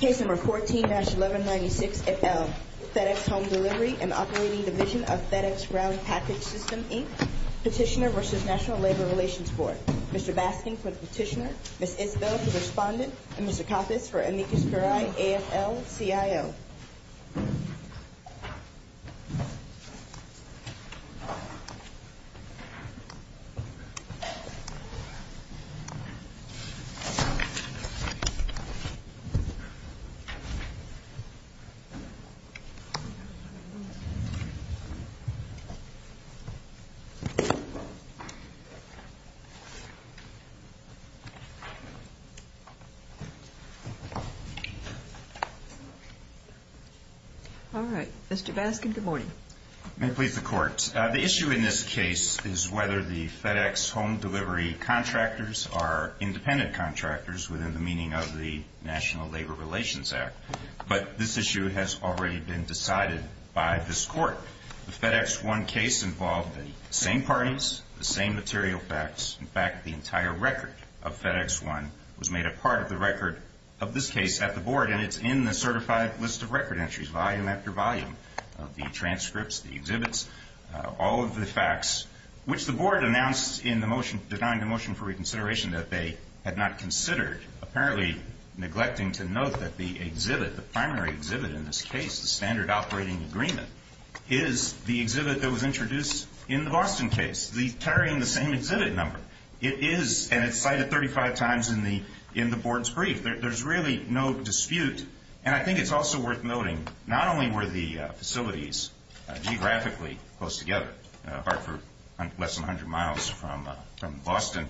Case No. 14-1196-FL FedEx Home Delivery and Operating Division of FedEx Round Package System, Inc. Petitioner v. National Labor Relations Board Mr. Basking for the petitioner, Ms. Isbell for the respondent, and Mr. Coppes for Amicus Curiae, AFL-CIO Petitioner v. National Labor Relations Board All right. Mr. Basking, good morning. The issue in this case is whether the FedEx home delivery contractors are independent contractors within the meaning of the National Labor Relations Act. But this issue has already been decided by this Court. The FedEx 1 case involved the same parties, the same material facts. In fact, the entire record of FedEx 1 was made a part of the record of this case at the Board, and it's in the certified list of record entries, volume after volume, of the transcripts, the exhibits, all of the facts, which the Board announced in the motion, denying the motion for reconsideration, that they had not considered, apparently neglecting to note that the exhibit, the primary exhibit in this case, the standard operating agreement, is the exhibit that was introduced in the Boston case, carrying the same exhibit number. It is, and it's cited 35 times in the Board's brief. There's really no dispute. And I think it's also worth noting not only were the facilities geographically close together, Hartford less than 100 miles from Boston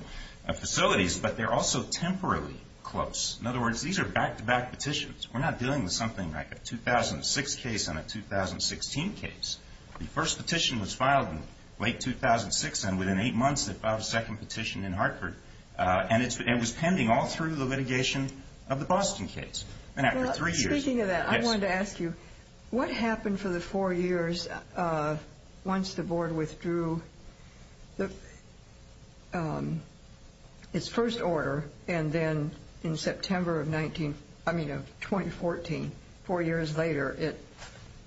facilities, but they're also temporarily close. In other words, these are back-to-back petitions. We're not dealing with something like a 2006 case and a 2016 case. The first petition was filed in late 2006, and within eight months they filed a second petition in Hartford. And it was pending all through the litigation of the Boston case, and after three years. Speaking of that, I wanted to ask you, what happened for the four years once the Board withdrew its first order, and then in September of 2014, four years later, it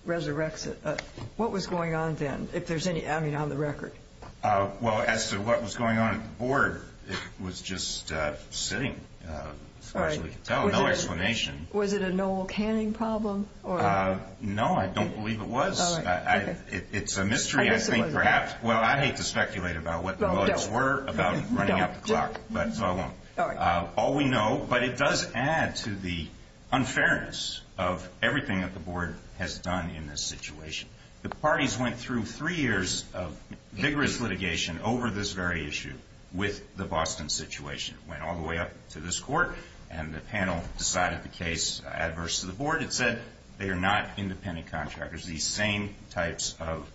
resurrects it? What was going on then, if there's any, I mean, on the record? Well, as to what was going on at the Board, it was just sitting as far as we could tell, no explanation. Was it a Noel Canning problem? No, I don't believe it was. It's a mystery, I think, perhaps. Well, I hate to speculate about what the votes were about running up the clock, but I won't. All we know, but it does add to the unfairness of everything that the Board has done in this situation. The parties went through three years of vigorous litigation over this very issue with the Boston situation. It went all the way up to this Court, and the panel decided the case adverse to the Board. It said they are not independent contractors, these same types of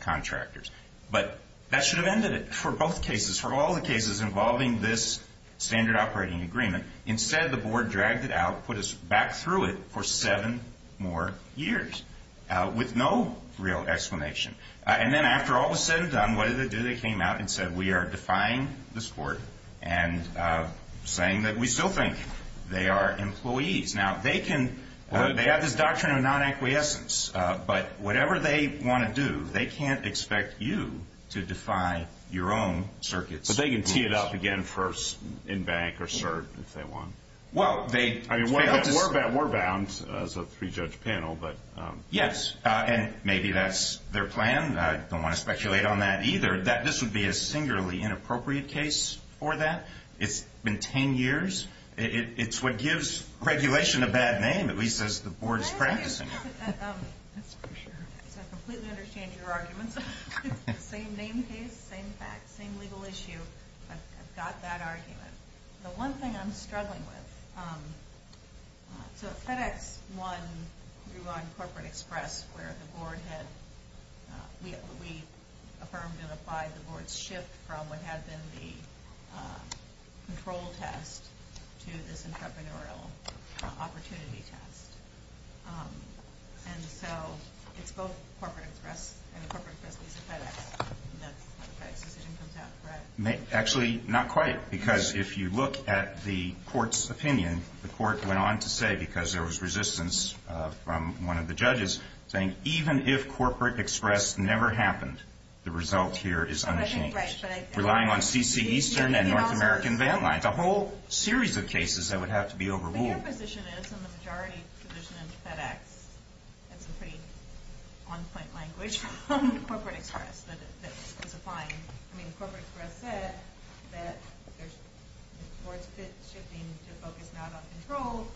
contractors. But that should have ended it for both cases, for all the cases involving this standard operating agreement. Instead, the Board dragged it out, put us back through it for seven more years. With no real explanation. And then after all was said and done, what did they do? They came out and said, we are defying this Board and saying that we still think they are employees. Now, they have this doctrine of non-acquiescence, but whatever they want to do, they can't expect you to defy your own circuits. But they can tee it up again first, in bank or cert, if they want. I mean, we're bound as a three-judge panel. Yes, and maybe that's their plan. I don't want to speculate on that either. This would be a singularly inappropriate case for that. It's been ten years. It's what gives regulation a bad name, at least as the Board is practicing it. That's for sure. I completely understand your arguments. Same name case, same facts, same legal issue. I've got that argument. The one thing I'm struggling with, so FedEx won, we won Corporate Express, where the Board had, we affirmed and applied the Board's shift from what had been the control test to this entrepreneurial opportunity test. And so, it's both Corporate Express and Corporate Express v. FedEx, and that's how the FedEx decision comes out, correct? Actually, not quite, because if you look at the Court's opinion, the Court went on to say, because there was resistance from one of the judges, saying, even if Corporate Express never happened, the result here is unchanged. Relying on C.C. Eastern and North American Van Lines, a whole series of cases that would have to be overruled. But your position is, in the majority position in FedEx, that's a pretty on-point language, on Corporate Express that was applying. I mean, Corporate Express said that the Board's shifting to focus not on control,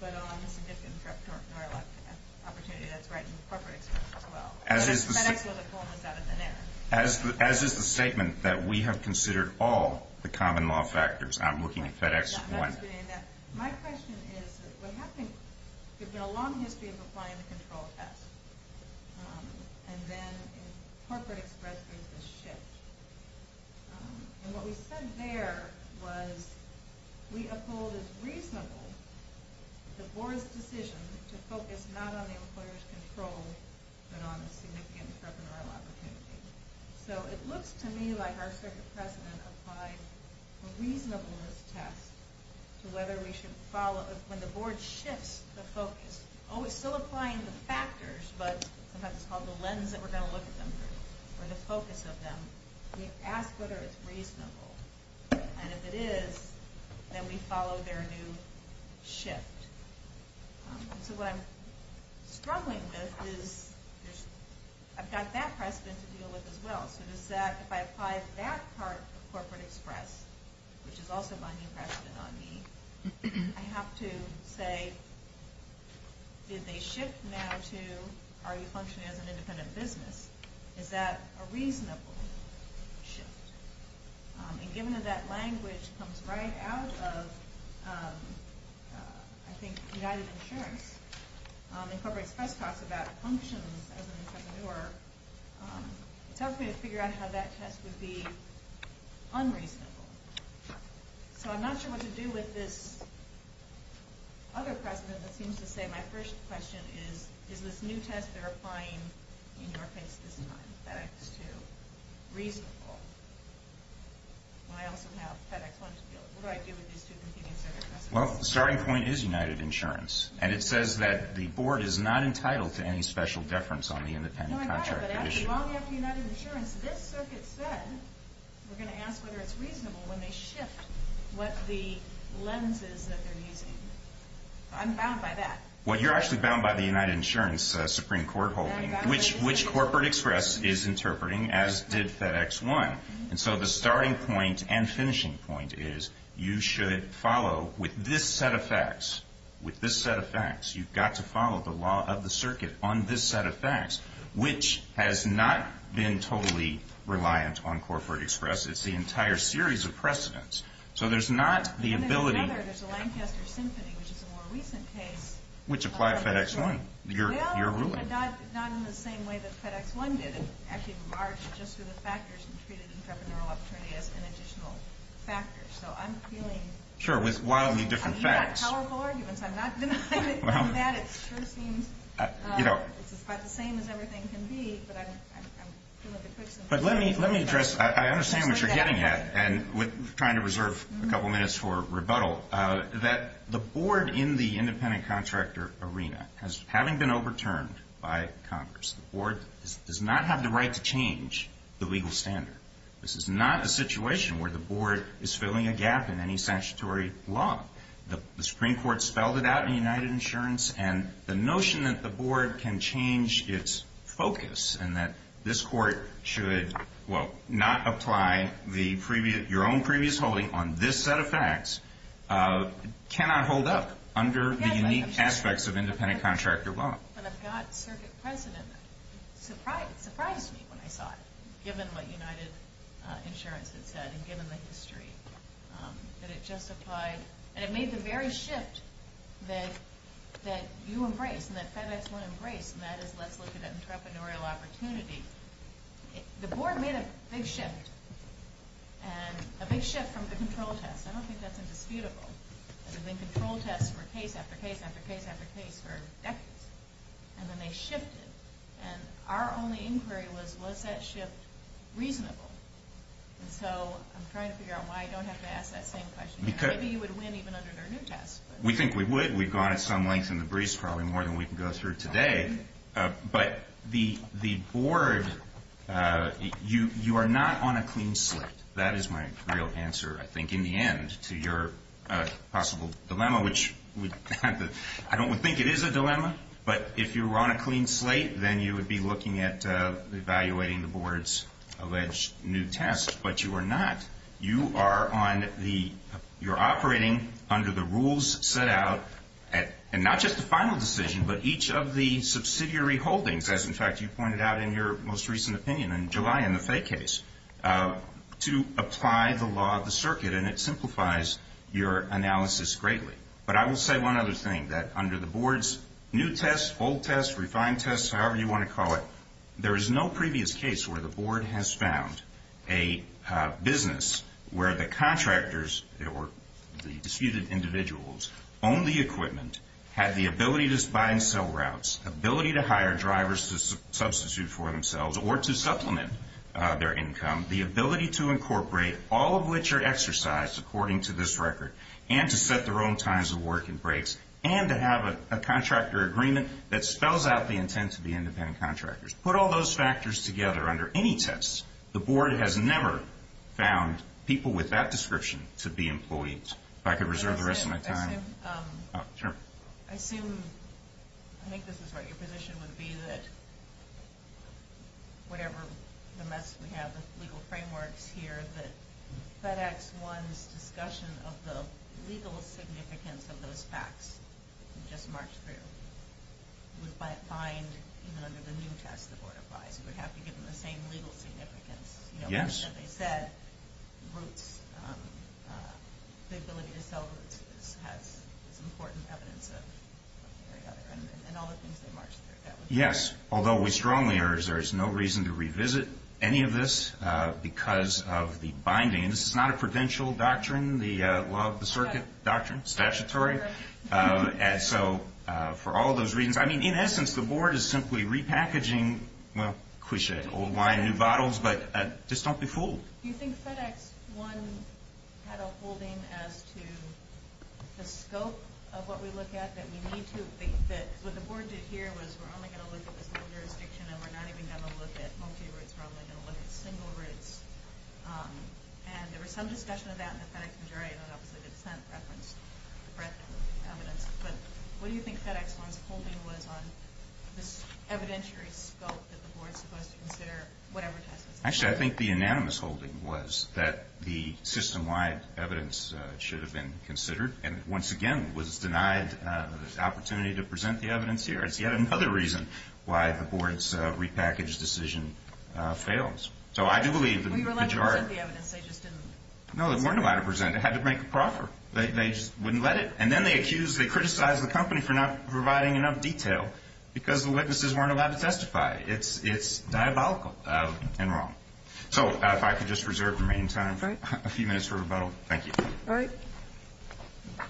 but on the significant entrepreneurial opportunity that's right in Corporate Express as well. But in FedEx, well, the poem was out of thin air. As is the statement that we have considered all the common law factors, I'm looking at FedEx won. My question is, what happened, there's been a long history of applying the control test, and then Corporate Express made this shift. And what we said there was, we uphold as reasonable the Board's decision to focus not on the employer's control, but on the significant entrepreneurial opportunity. So it looks to me like our Circuit President applied a reasonableness test to whether we should follow, when the Board shifts the focus, oh, it's still applying the factors, but sometimes it's called the lens that we're going to look at them through, or the focus of them. We ask whether it's reasonable. And if it is, then we follow their new shift. So what I'm struggling with is, I've got that precedent to deal with as well. So does that, if I apply that part of Corporate Express, which is also my new precedent on me, I have to say, did they shift now to, are you functioning as an independent business? Is that a reasonable shift? And given that that language comes right out of, I think, United Insurance, and Corporate Express talks about functions as an entrepreneur, it tells me to figure out how that test would be unreasonable. So I'm not sure what to do with this other precedent that seems to say my first question is, is this new test they're applying in your case this time, FedEx 2, reasonable? I also have FedEx 1 to deal with. What do I do with these two competing circuit precedents? Well, the starting point is United Insurance, and it says that the Board is not entitled to any special deference on the independent contract. No, I get it, but actually, long after United Insurance, this Circuit said, we're going to ask whether it's reasonable when they shift what the lens is that they're using. I'm bound by that. Well, you're actually bound by the United Insurance Supreme Court holding, which Corporate Express is interpreting, as did FedEx 1. And so the starting point and finishing point is you should follow, with this set of facts, with this set of facts, you've got to follow the law of the Circuit on this set of facts, which has not been totally reliant on Corporate Express. It's the entire series of precedents. So there's not the ability. And then another, there's the Lancaster Symphony, which is a more recent case. Which applied FedEx 1, your ruling. Well, but not in the same way that FedEx 1 did. It actually emerged just through the factors and treated entrepreneurial opportunity as an additional factor. So I'm feeling... Sure, with wildly different facts. I'm not denying that. It sure seems... You know... It's about the same as everything can be, but I'm... But let me address... I understand what you're getting at. And we're trying to reserve a couple minutes for rebuttal. That the board in the independent contractor arena, having been overturned by Congress, the board does not have the right to change the legal standard. This is not a situation where the board is filling a gap in any statutory law. The Supreme Court spelled it out in United Insurance. And the notion that the board can change its focus, and that this court should, well, not apply your own previous holding on this set of facts, cannot hold up under the unique aspects of independent contractor law. And I've got circuit precedent that surprised me when I saw it, given what United Insurance had said and given the history that it justified... And it made the very shift that you embrace and that FedEx won't embrace, and that is let's look at entrepreneurial opportunity. The board made a big shift. And a big shift from the control test. I don't think that's indisputable. There have been control tests for case after case after case after case for decades. And then they shifted. And our only inquiry was, was that shift reasonable? And so I'm trying to figure out why I don't have to ask that same question. Maybe you would win even under their new test. We think we would. We've gone at some length in the breeze, probably more than we can go through today. But the board, you are not on a clean slate. That is my real answer, I think, in the end to your possible dilemma, which I don't think it is a dilemma. But if you were on a clean slate, then you would be looking at evaluating the board's alleged new test. But you are not. You are operating under the rules set out, and not just the final decision, but each of the subsidiary holdings, as, in fact, you pointed out in your most recent opinion in July in the Fay case, to apply the law of the circuit. And it simplifies your analysis greatly. But I will say one other thing, that under the board's new test, old test, refined test, however you want to call it, there is no previous case where the board has found a business where the contractors or the disputed individuals owned the equipment, had the ability to buy and sell routes, ability to hire drivers to substitute for themselves or to supplement their income, the ability to incorporate all of which are exercised according to this record, and to set their own times of work and breaks, and to have a contractor agreement that spells out the intent to be independent contractors. Put all those factors together under any test. The board has never found people with that description to be employees. If I could reserve the rest of my time. Sure. I assume, I think this is right, your position would be that whatever the mess we have with legal frameworks here, that FedEx One's discussion of the legal significance of those facts you just marched through would bind even under the new test the board applies. You would have to give them the same legal significance. Yes. As they said, routes, the ability to sell routes has important evidence of one or the other, and all the things they marched through. Yes. Although we strongly urge there is no reason to revisit any of this because of the binding, and this is not a prudential doctrine, the law of the circuit doctrine, statutory. And so for all those reasons, I mean, in essence, the board is simply repackaging, well, cliche, old wine, new bottles, but just don't be fooled. Do you think FedEx One had a holding as to the scope of what we look at that we need to, that what the board did here was we're only going to look at the single jurisdiction and we're not even going to look at multi-routes. We're only going to look at single routes. And there was some discussion of that in the FedEx majority, and that was a dissent reference, breadth of evidence. But what do you think FedEx One's holding was on this evidentiary scope that the board is supposed to consider whatever test it's on? Actually, I think the unanimous holding was that the system-wide evidence should have been considered, and once again was denied the opportunity to present the evidence here. It's yet another reason why the board's repackaged decision fails. So I do believe that the majority of the evidence they just didn't present. No, they weren't allowed to present. They had to make a proffer. They just wouldn't let it. And then they accused, they criticized the company for not providing enough detail because the witnesses weren't allowed to testify. It's diabolical and wrong. So if I could just reserve the remaining time for a few minutes for rebuttal. Thank you. All right.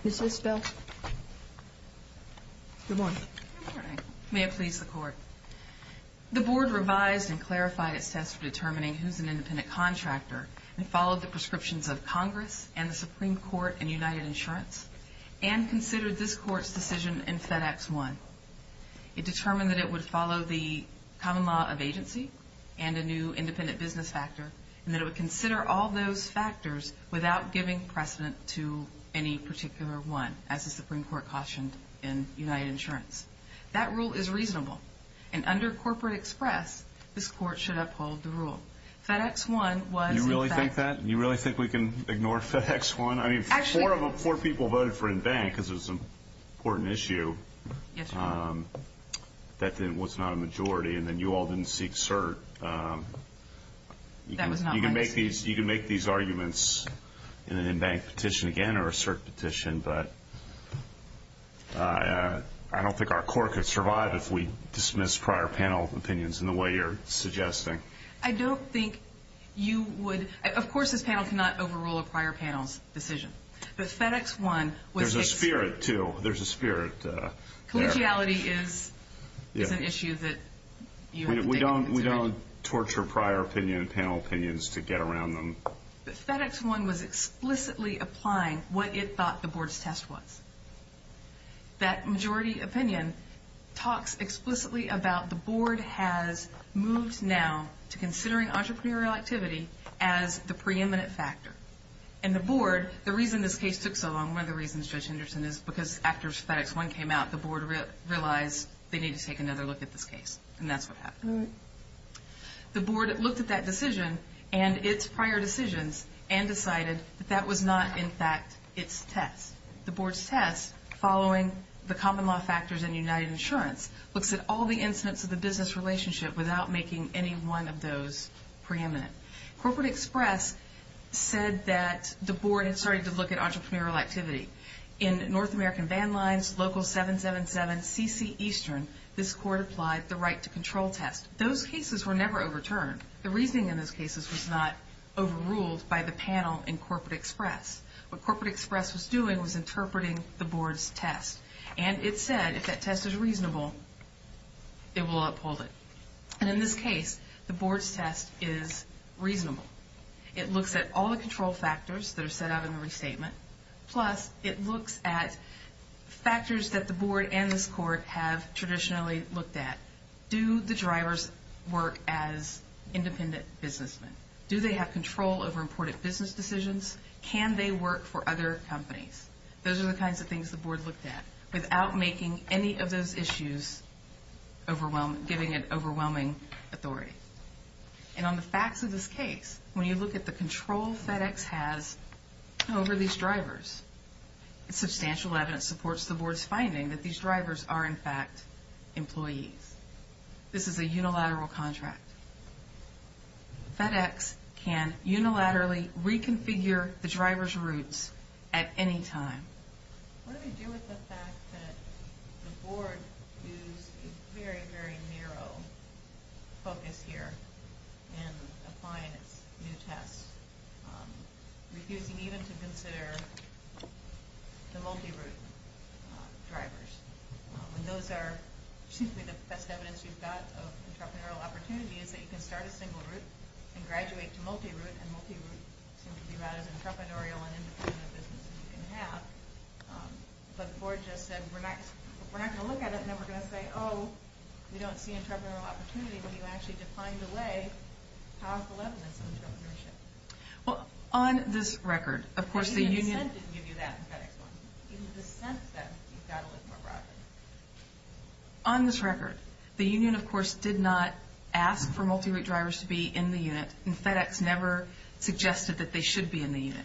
Ms. Isbell. Good morning. Good morning. May it please the Court. The board revised and clarified its test for determining who's an independent contractor and followed the prescriptions of Congress and the Supreme Court and United Insurance and considered this Court's decision in FedEx I. It determined that it would follow the common law of agency and a new independent business factor and that it would consider all those factors without giving precedent to any particular one, as the Supreme Court cautioned in United Insurance. That rule is reasonable. And under corporate express, this Court should uphold the rule. FedEx I was in fact. You really think that? You really think we can ignore FedEx I? I mean, four people voted for in-bank because it was an important issue. That was not a majority, and then you all didn't seek cert. You can make these arguments in an in-bank petition again or a cert petition, but I don't think our Court could survive if we dismiss prior panel opinions in the way you're suggesting. I don't think you would. Of course this panel cannot overrule a prior panel's decision, but FedEx I was. There's a spirit, too. There's a spirit there. Collegiality is an issue that you have to take into consideration. We don't torture prior panel opinions to get around them. But FedEx I was explicitly applying what it thought the board's test was. That majority opinion talks explicitly about the board has moved now to considering entrepreneurial activity as the preeminent factor. And the board, the reason this case took so long, one of the reasons, Judge Henderson, is because after FedEx I came out, the board realized they needed to take another look at this case, and that's what happened. The board looked at that decision and its prior decisions and decided that that was not in fact its test. The board's test, following the common law factors and United Insurance, looks at all the incidents of the business relationship without making any one of those preeminent. Corporate Express said that the board had started to look at entrepreneurial activity. In North American Van Lines, Local 777, CC Eastern, this court applied the right to control test. Those cases were never overturned. The reasoning in those cases was not overruled by the panel in Corporate Express. What Corporate Express was doing was interpreting the board's test, and it said if that test is reasonable, it will uphold it. And in this case, the board's test is reasonable. It looks at all the control factors that are set out in the restatement, plus it looks at factors that the board and this court have traditionally looked at. Do the drivers work as independent businessmen? Do they have control over important business decisions? Can they work for other companies? Those are the kinds of things the board looked at without making any of those issues overwhelming, giving it overwhelming authority. And on the facts of this case, when you look at the control FedEx has over these drivers, substantial evidence supports the board's finding that these drivers are in fact employees. This is a unilateral contract. FedEx can unilaterally reconfigure the drivers' routes at any time. What do we do with the fact that the board used a very, very narrow focus here in applying its new test, refusing even to consider the multi-route drivers? And those are, excuse me, the best evidence you've got of entrepreneurial opportunity is that you can start a single route and graduate to multi-route, and multi-route seems to be about as entrepreneurial and independent a business as you can have. But the board just said, we're not going to look at it and then we're going to say, oh, we don't see entrepreneurial opportunity, but you actually defined away powerful evidence of entrepreneurship. Well, on this record, of course, the union... In the sense that you've got to look more broadly. On this record, the union, of course, did not ask for multi-route drivers to be in the unit, and FedEx never suggested that they should be in the unit.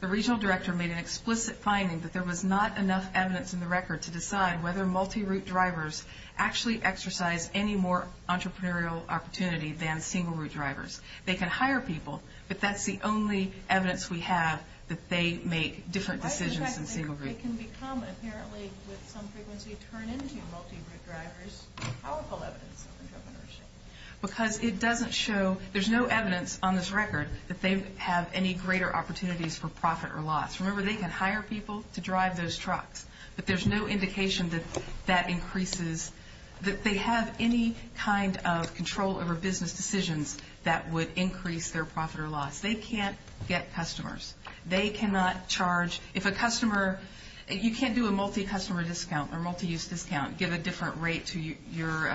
The regional director made an explicit finding that there was not enough evidence in the record to decide whether multi-route drivers actually exercise any more entrepreneurial opportunity than single route drivers. They can hire people, but that's the only evidence we have that they make different decisions than single route drivers. It can become, apparently, with some frequency, turn into multi-route drivers, powerful evidence of entrepreneurship. Because it doesn't show... There's no evidence on this record that they have any greater opportunities for profit or loss. Remember, they can hire people to drive those trucks, but there's no indication that that increases... that they have any kind of control over business decisions that would increase their profit or loss. They can't get customers. They cannot charge... If a customer... You can't do a multi-customer discount or multi-use discount, give a different rate to your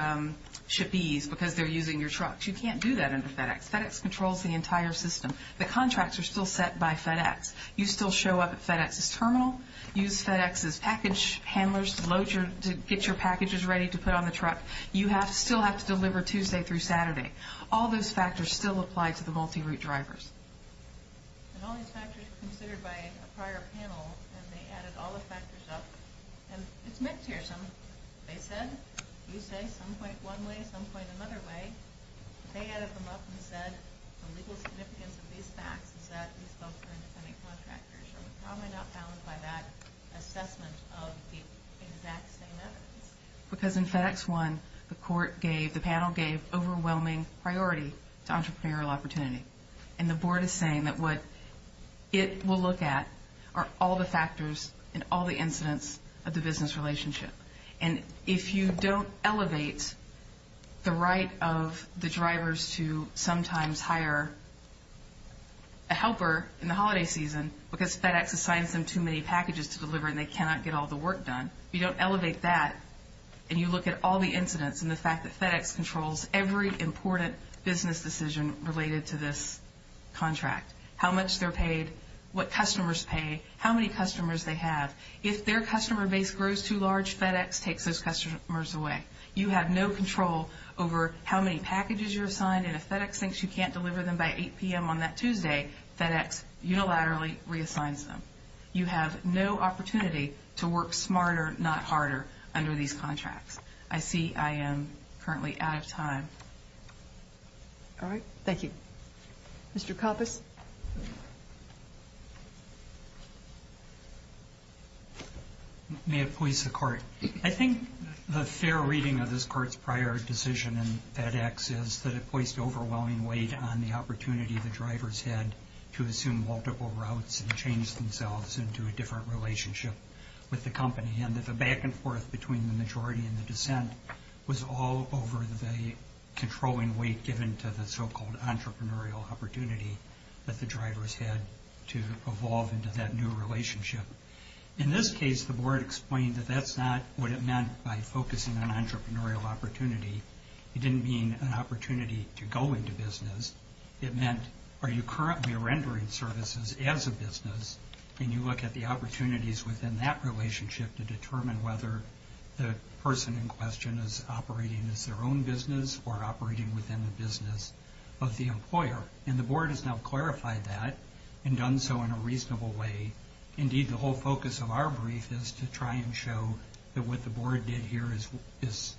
shippees because they're using your trucks. You can't do that under FedEx. FedEx controls the entire system. The contracts are still set by FedEx. You still show up at FedEx's terminal, use FedEx's package handlers to get your packages ready to put on the truck. You still have to deliver Tuesday through Saturday. All those factors still apply to the multi-route drivers. And all these factors were considered by a prior panel, and they added all the factors up. And it's mixed here. They said you say some point one way, some point another way. They added them up and said the legal significance of these facts is that these folks are independent contractors. So we're probably not bound by that assessment of the exact same evidence. Because in FedEx 1, the court gave... the panel gave overwhelming priority to entrepreneurial opportunity. And the board is saying that what it will look at are all the factors and all the incidents of the business relationship. And if you don't elevate the right of the drivers to sometimes hire a helper in the holiday season because FedEx assigns them too many packages to deliver and they cannot get all the work done, if you don't elevate that and you look at all the incidents and the fact that FedEx controls every important business decision related to this contract, how much they're paid, what customers pay, how many customers they have. If their customer base grows too large, FedEx takes those customers away. You have no control over how many packages you're assigned, and if FedEx thinks you can't deliver them by 8 p.m. on that Tuesday, FedEx unilaterally reassigns them. You have no opportunity to work smarter, not harder, under these contracts. I see I am currently out of time. All right. Thank you. Mr. Coppice. May it please the Court. I think the fair reading of this Court's prior decision in FedEx is that it placed overwhelming weight on the opportunity the drivers had to assume multiple routes and change themselves into a different relationship with the company, and that the back-and-forth between the majority and the dissent was all over the controlling weight given to the so-called entrepreneurial opportunity that the drivers had to evolve into that new relationship. In this case, the Board explained that that's not what it meant by focusing on entrepreneurial opportunity. It didn't mean an opportunity to go into business. It meant are you currently rendering services as a business, and you look at the opportunities within that relationship to determine whether the person in question is operating as their own business or operating within the business of the employer. And the Board has now clarified that and done so in a reasonable way. Indeed, the whole focus of our brief is to try and show that what the Board did here is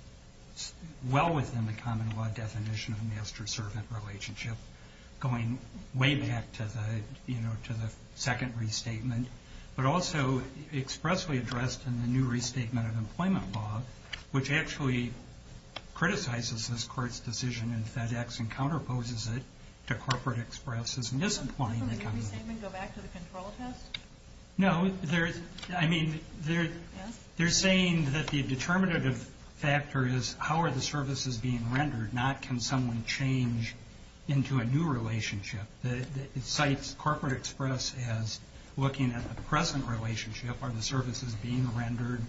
well within the common law definition of master-servant relationship, going way back to the second restatement, but also expressly addressed in the new restatement of employment law, which actually criticizes this Court's decision in FedEx and counterposes it to Corporate Express' misapplying the common law. Can we go back to the control test? No. I mean, they're saying that the determinative factor is how are the services being rendered, not can someone change into a new relationship. It cites Corporate Express as looking at the present relationship. Are the services being rendered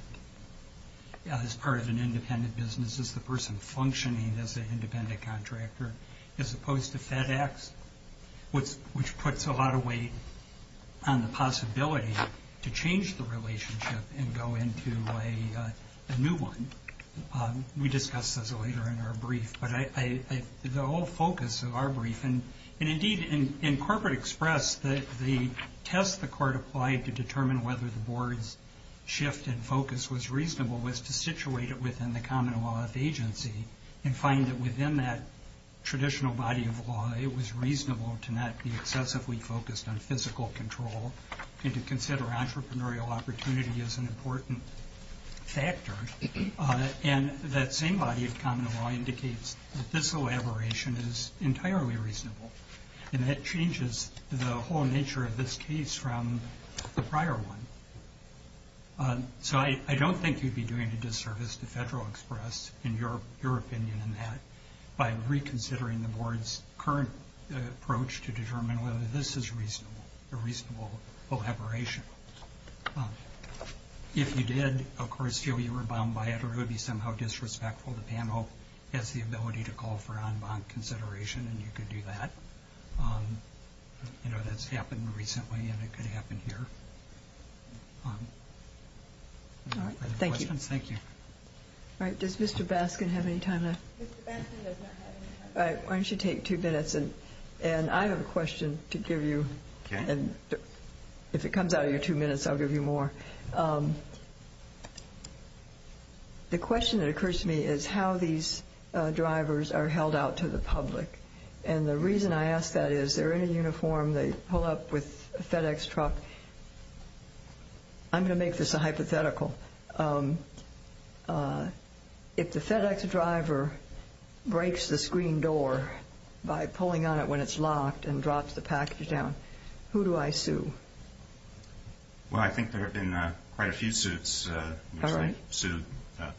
as part of an independent business? Is the person functioning as an independent contractor? As opposed to FedEx, which puts a lot of weight on the possibility to change the relationship and go into a new one. We discuss this later in our brief. The whole focus of our brief, and indeed in Corporate Express, the test the Court applied to determine whether the Board's shift in focus was reasonable was to situate it within the common law of agency and find that within that traditional body of law, it was reasonable to not be excessively focused on physical control and to consider entrepreneurial opportunity as an important factor. And that same body of common law indicates that this elaboration is entirely reasonable, and that changes the whole nature of this case from the prior one. So I don't think you'd be doing a disservice to Federal Express in your opinion in that by reconsidering the Board's current approach to determine whether this is a reasonable elaboration. If you did, of course, feel you were bummed by it, or it would be somehow disrespectful of the panel as the ability to call for on-bond consideration, and you could do that. You know, that's happened recently, and it could happen here. Other questions? Thank you. All right, does Mr. Baskin have any time left? Mr. Baskin does not have any time left. All right, why don't you take two minutes, and I have a question to give you. If it comes out of your two minutes, I'll give you more. The question that occurs to me is how these drivers are held out to the public, and the reason I ask that is they're in a uniform, they pull up with a FedEx truck. I'm going to make this a hypothetical. If the FedEx driver breaks the screen door by pulling on it when it's locked and drops the package down, who do I sue? Well, I think there have been quite a few suits which have sued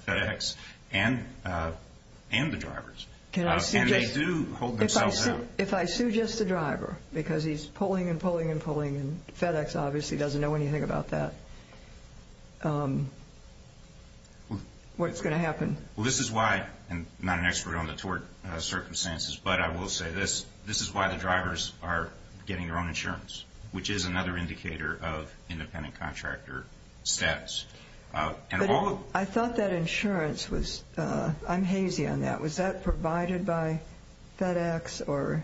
FedEx and the drivers, and they do hold themselves out. If I sue just the driver because he's pulling and pulling and pulling, and FedEx obviously doesn't know anything about that, what's going to happen? Well, this is why, and I'm not an expert on the tort circumstances, but I will say this, this is why the drivers are getting their own insurance, which is another indicator of independent contractor status. I thought that insurance was, I'm hazy on that, was that provided by FedEx or?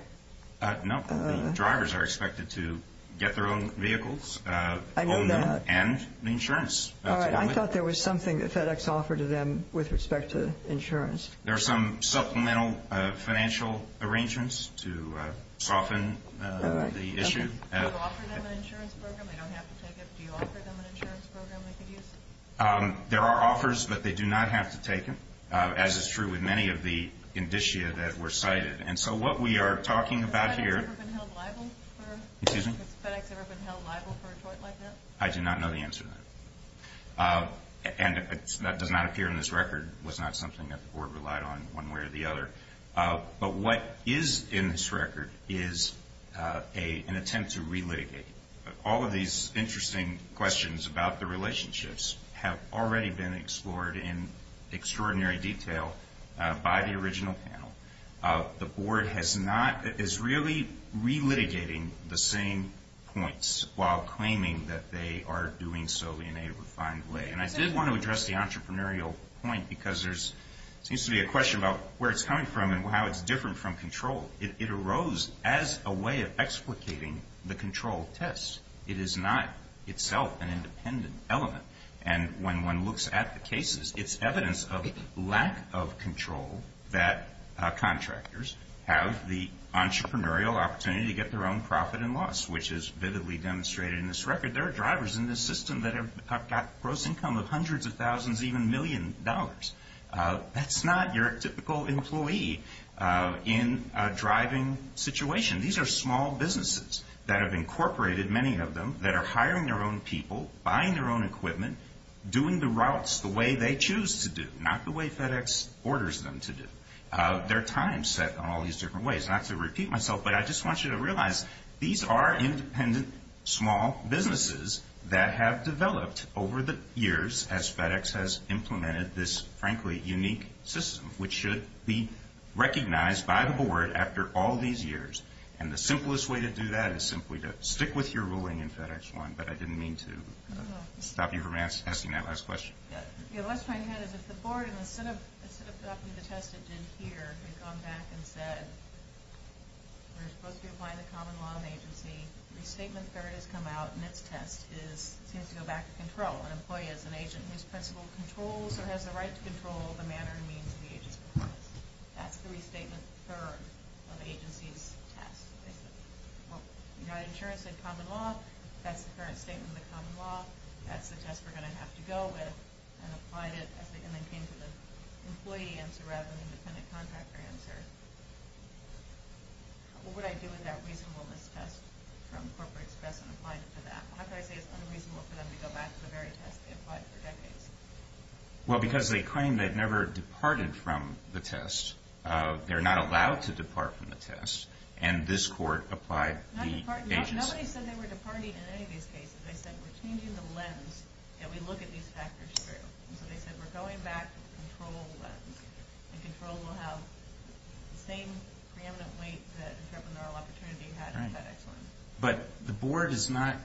No, the drivers are expected to get their own vehicles, own them, and the insurance. All right. I thought there was something that FedEx offered to them with respect to insurance. There are some supplemental financial arrangements to soften the issue. Do you offer them an insurance program? They don't have to take it. Do you offer them an insurance program they could use? There are offers, but they do not have to take them, as is true with many of the indicia that were cited. And so what we are talking about here. Has FedEx ever been held liable for a tort like that? I do not know the answer to that. And that does not appear in this record. It was not something that the board relied on one way or the other. But what is in this record is an attempt to relitigate. All of these interesting questions about the relationships have already been explored in extraordinary detail by the original panel. The board is really relitigating the same points while claiming that they are doing so in a refined way. And I did want to address the entrepreneurial point because there seems to be a question about where it's coming from and how it's different from control. It arose as a way of explicating the control test. It is not itself an independent element. And when one looks at the cases, it's evidence of lack of control that contractors have the entrepreneurial opportunity to get their own profit and loss, which is vividly demonstrated in this record. There are drivers in this system that have got gross income of hundreds of thousands, even millions of dollars. That's not your typical employee in a driving situation. These are small businesses that have incorporated, many of them, that are hiring their own people, buying their own equipment, doing the routes the way they choose to do, not the way FedEx orders them to do. Their time is set in all these different ways. Not to repeat myself, but I just want you to realize these are independent small businesses that have developed over the years as FedEx has implemented this, frankly, unique system, which should be recognized by the board after all these years. And the simplest way to do that is simply to stick with your ruling in FedEx 1, but I didn't mean to stop you from asking that last question. The last point I had is if the board, instead of adopting the test it did here, had gone back and said we're supposed to be applying the common law in the agency, restatement third has come out, and its test seems to go back to control. An employee is an agent whose principle controls or has the right to control the manner and means of the agency's process. That's the restatement third of the agency's test. Well, United Insurance said common law. That's the current statement of the common law. That's the test we're going to have to go with, and applied it and then came to the employee answer rather than the independent contractor answer. What would I do with that reasonableness test from Corporate Express and applied it to that? How could I say it's unreasonable for them to go back to the very test they applied for decades? Well, because they claim they've never departed from the test. They're not allowed to depart from the test, and this court applied the agency. Nobody said they were departing in any of these cases. They said we're changing the lens and we look at these factors through. So they said we're going back to the control lens, and control will have the same preeminent weight that entrepreneurial opportunity had in FedEx lens. But the board is not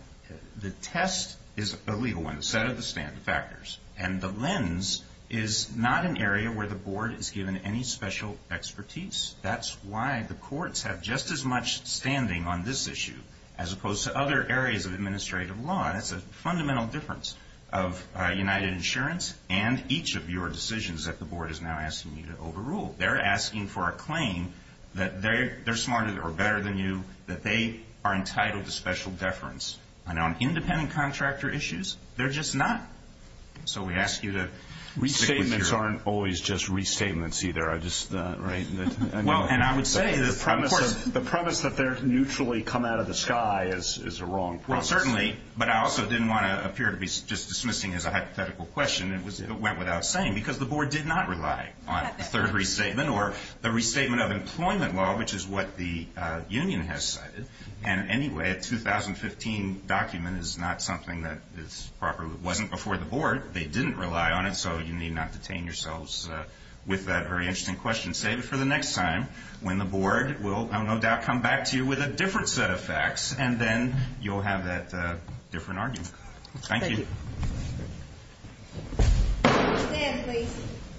the test is a legal one, the set of the standard factors, and the lens is not an area where the board is given any special expertise. That's why the courts have just as much standing on this issue as opposed to other areas of administrative law. That's a fundamental difference of UnitedInsurance and each of your decisions that the board is now asking you to overrule. They're asking for a claim that they're smarter or better than you, that they are entitled to special deference. And on independent contractor issues, they're just not. So we ask you to stick with your... The premise that they're mutually come out of the sky is a wrong premise. Well, certainly, but I also didn't want to appear to be just dismissing as a hypothetical question. It went without saying because the board did not rely on a third restatement or the restatement of employment law, which is what the union has cited. Anyway, a 2015 document is not something that wasn't before the board. They didn't rely on it, so you need not detain yourselves with that very interesting question. Save it for the next time when the board will, I have no doubt, come back to you with a different set of facts, and then you'll have that different argument. Thank you. Thank you. Stand, please.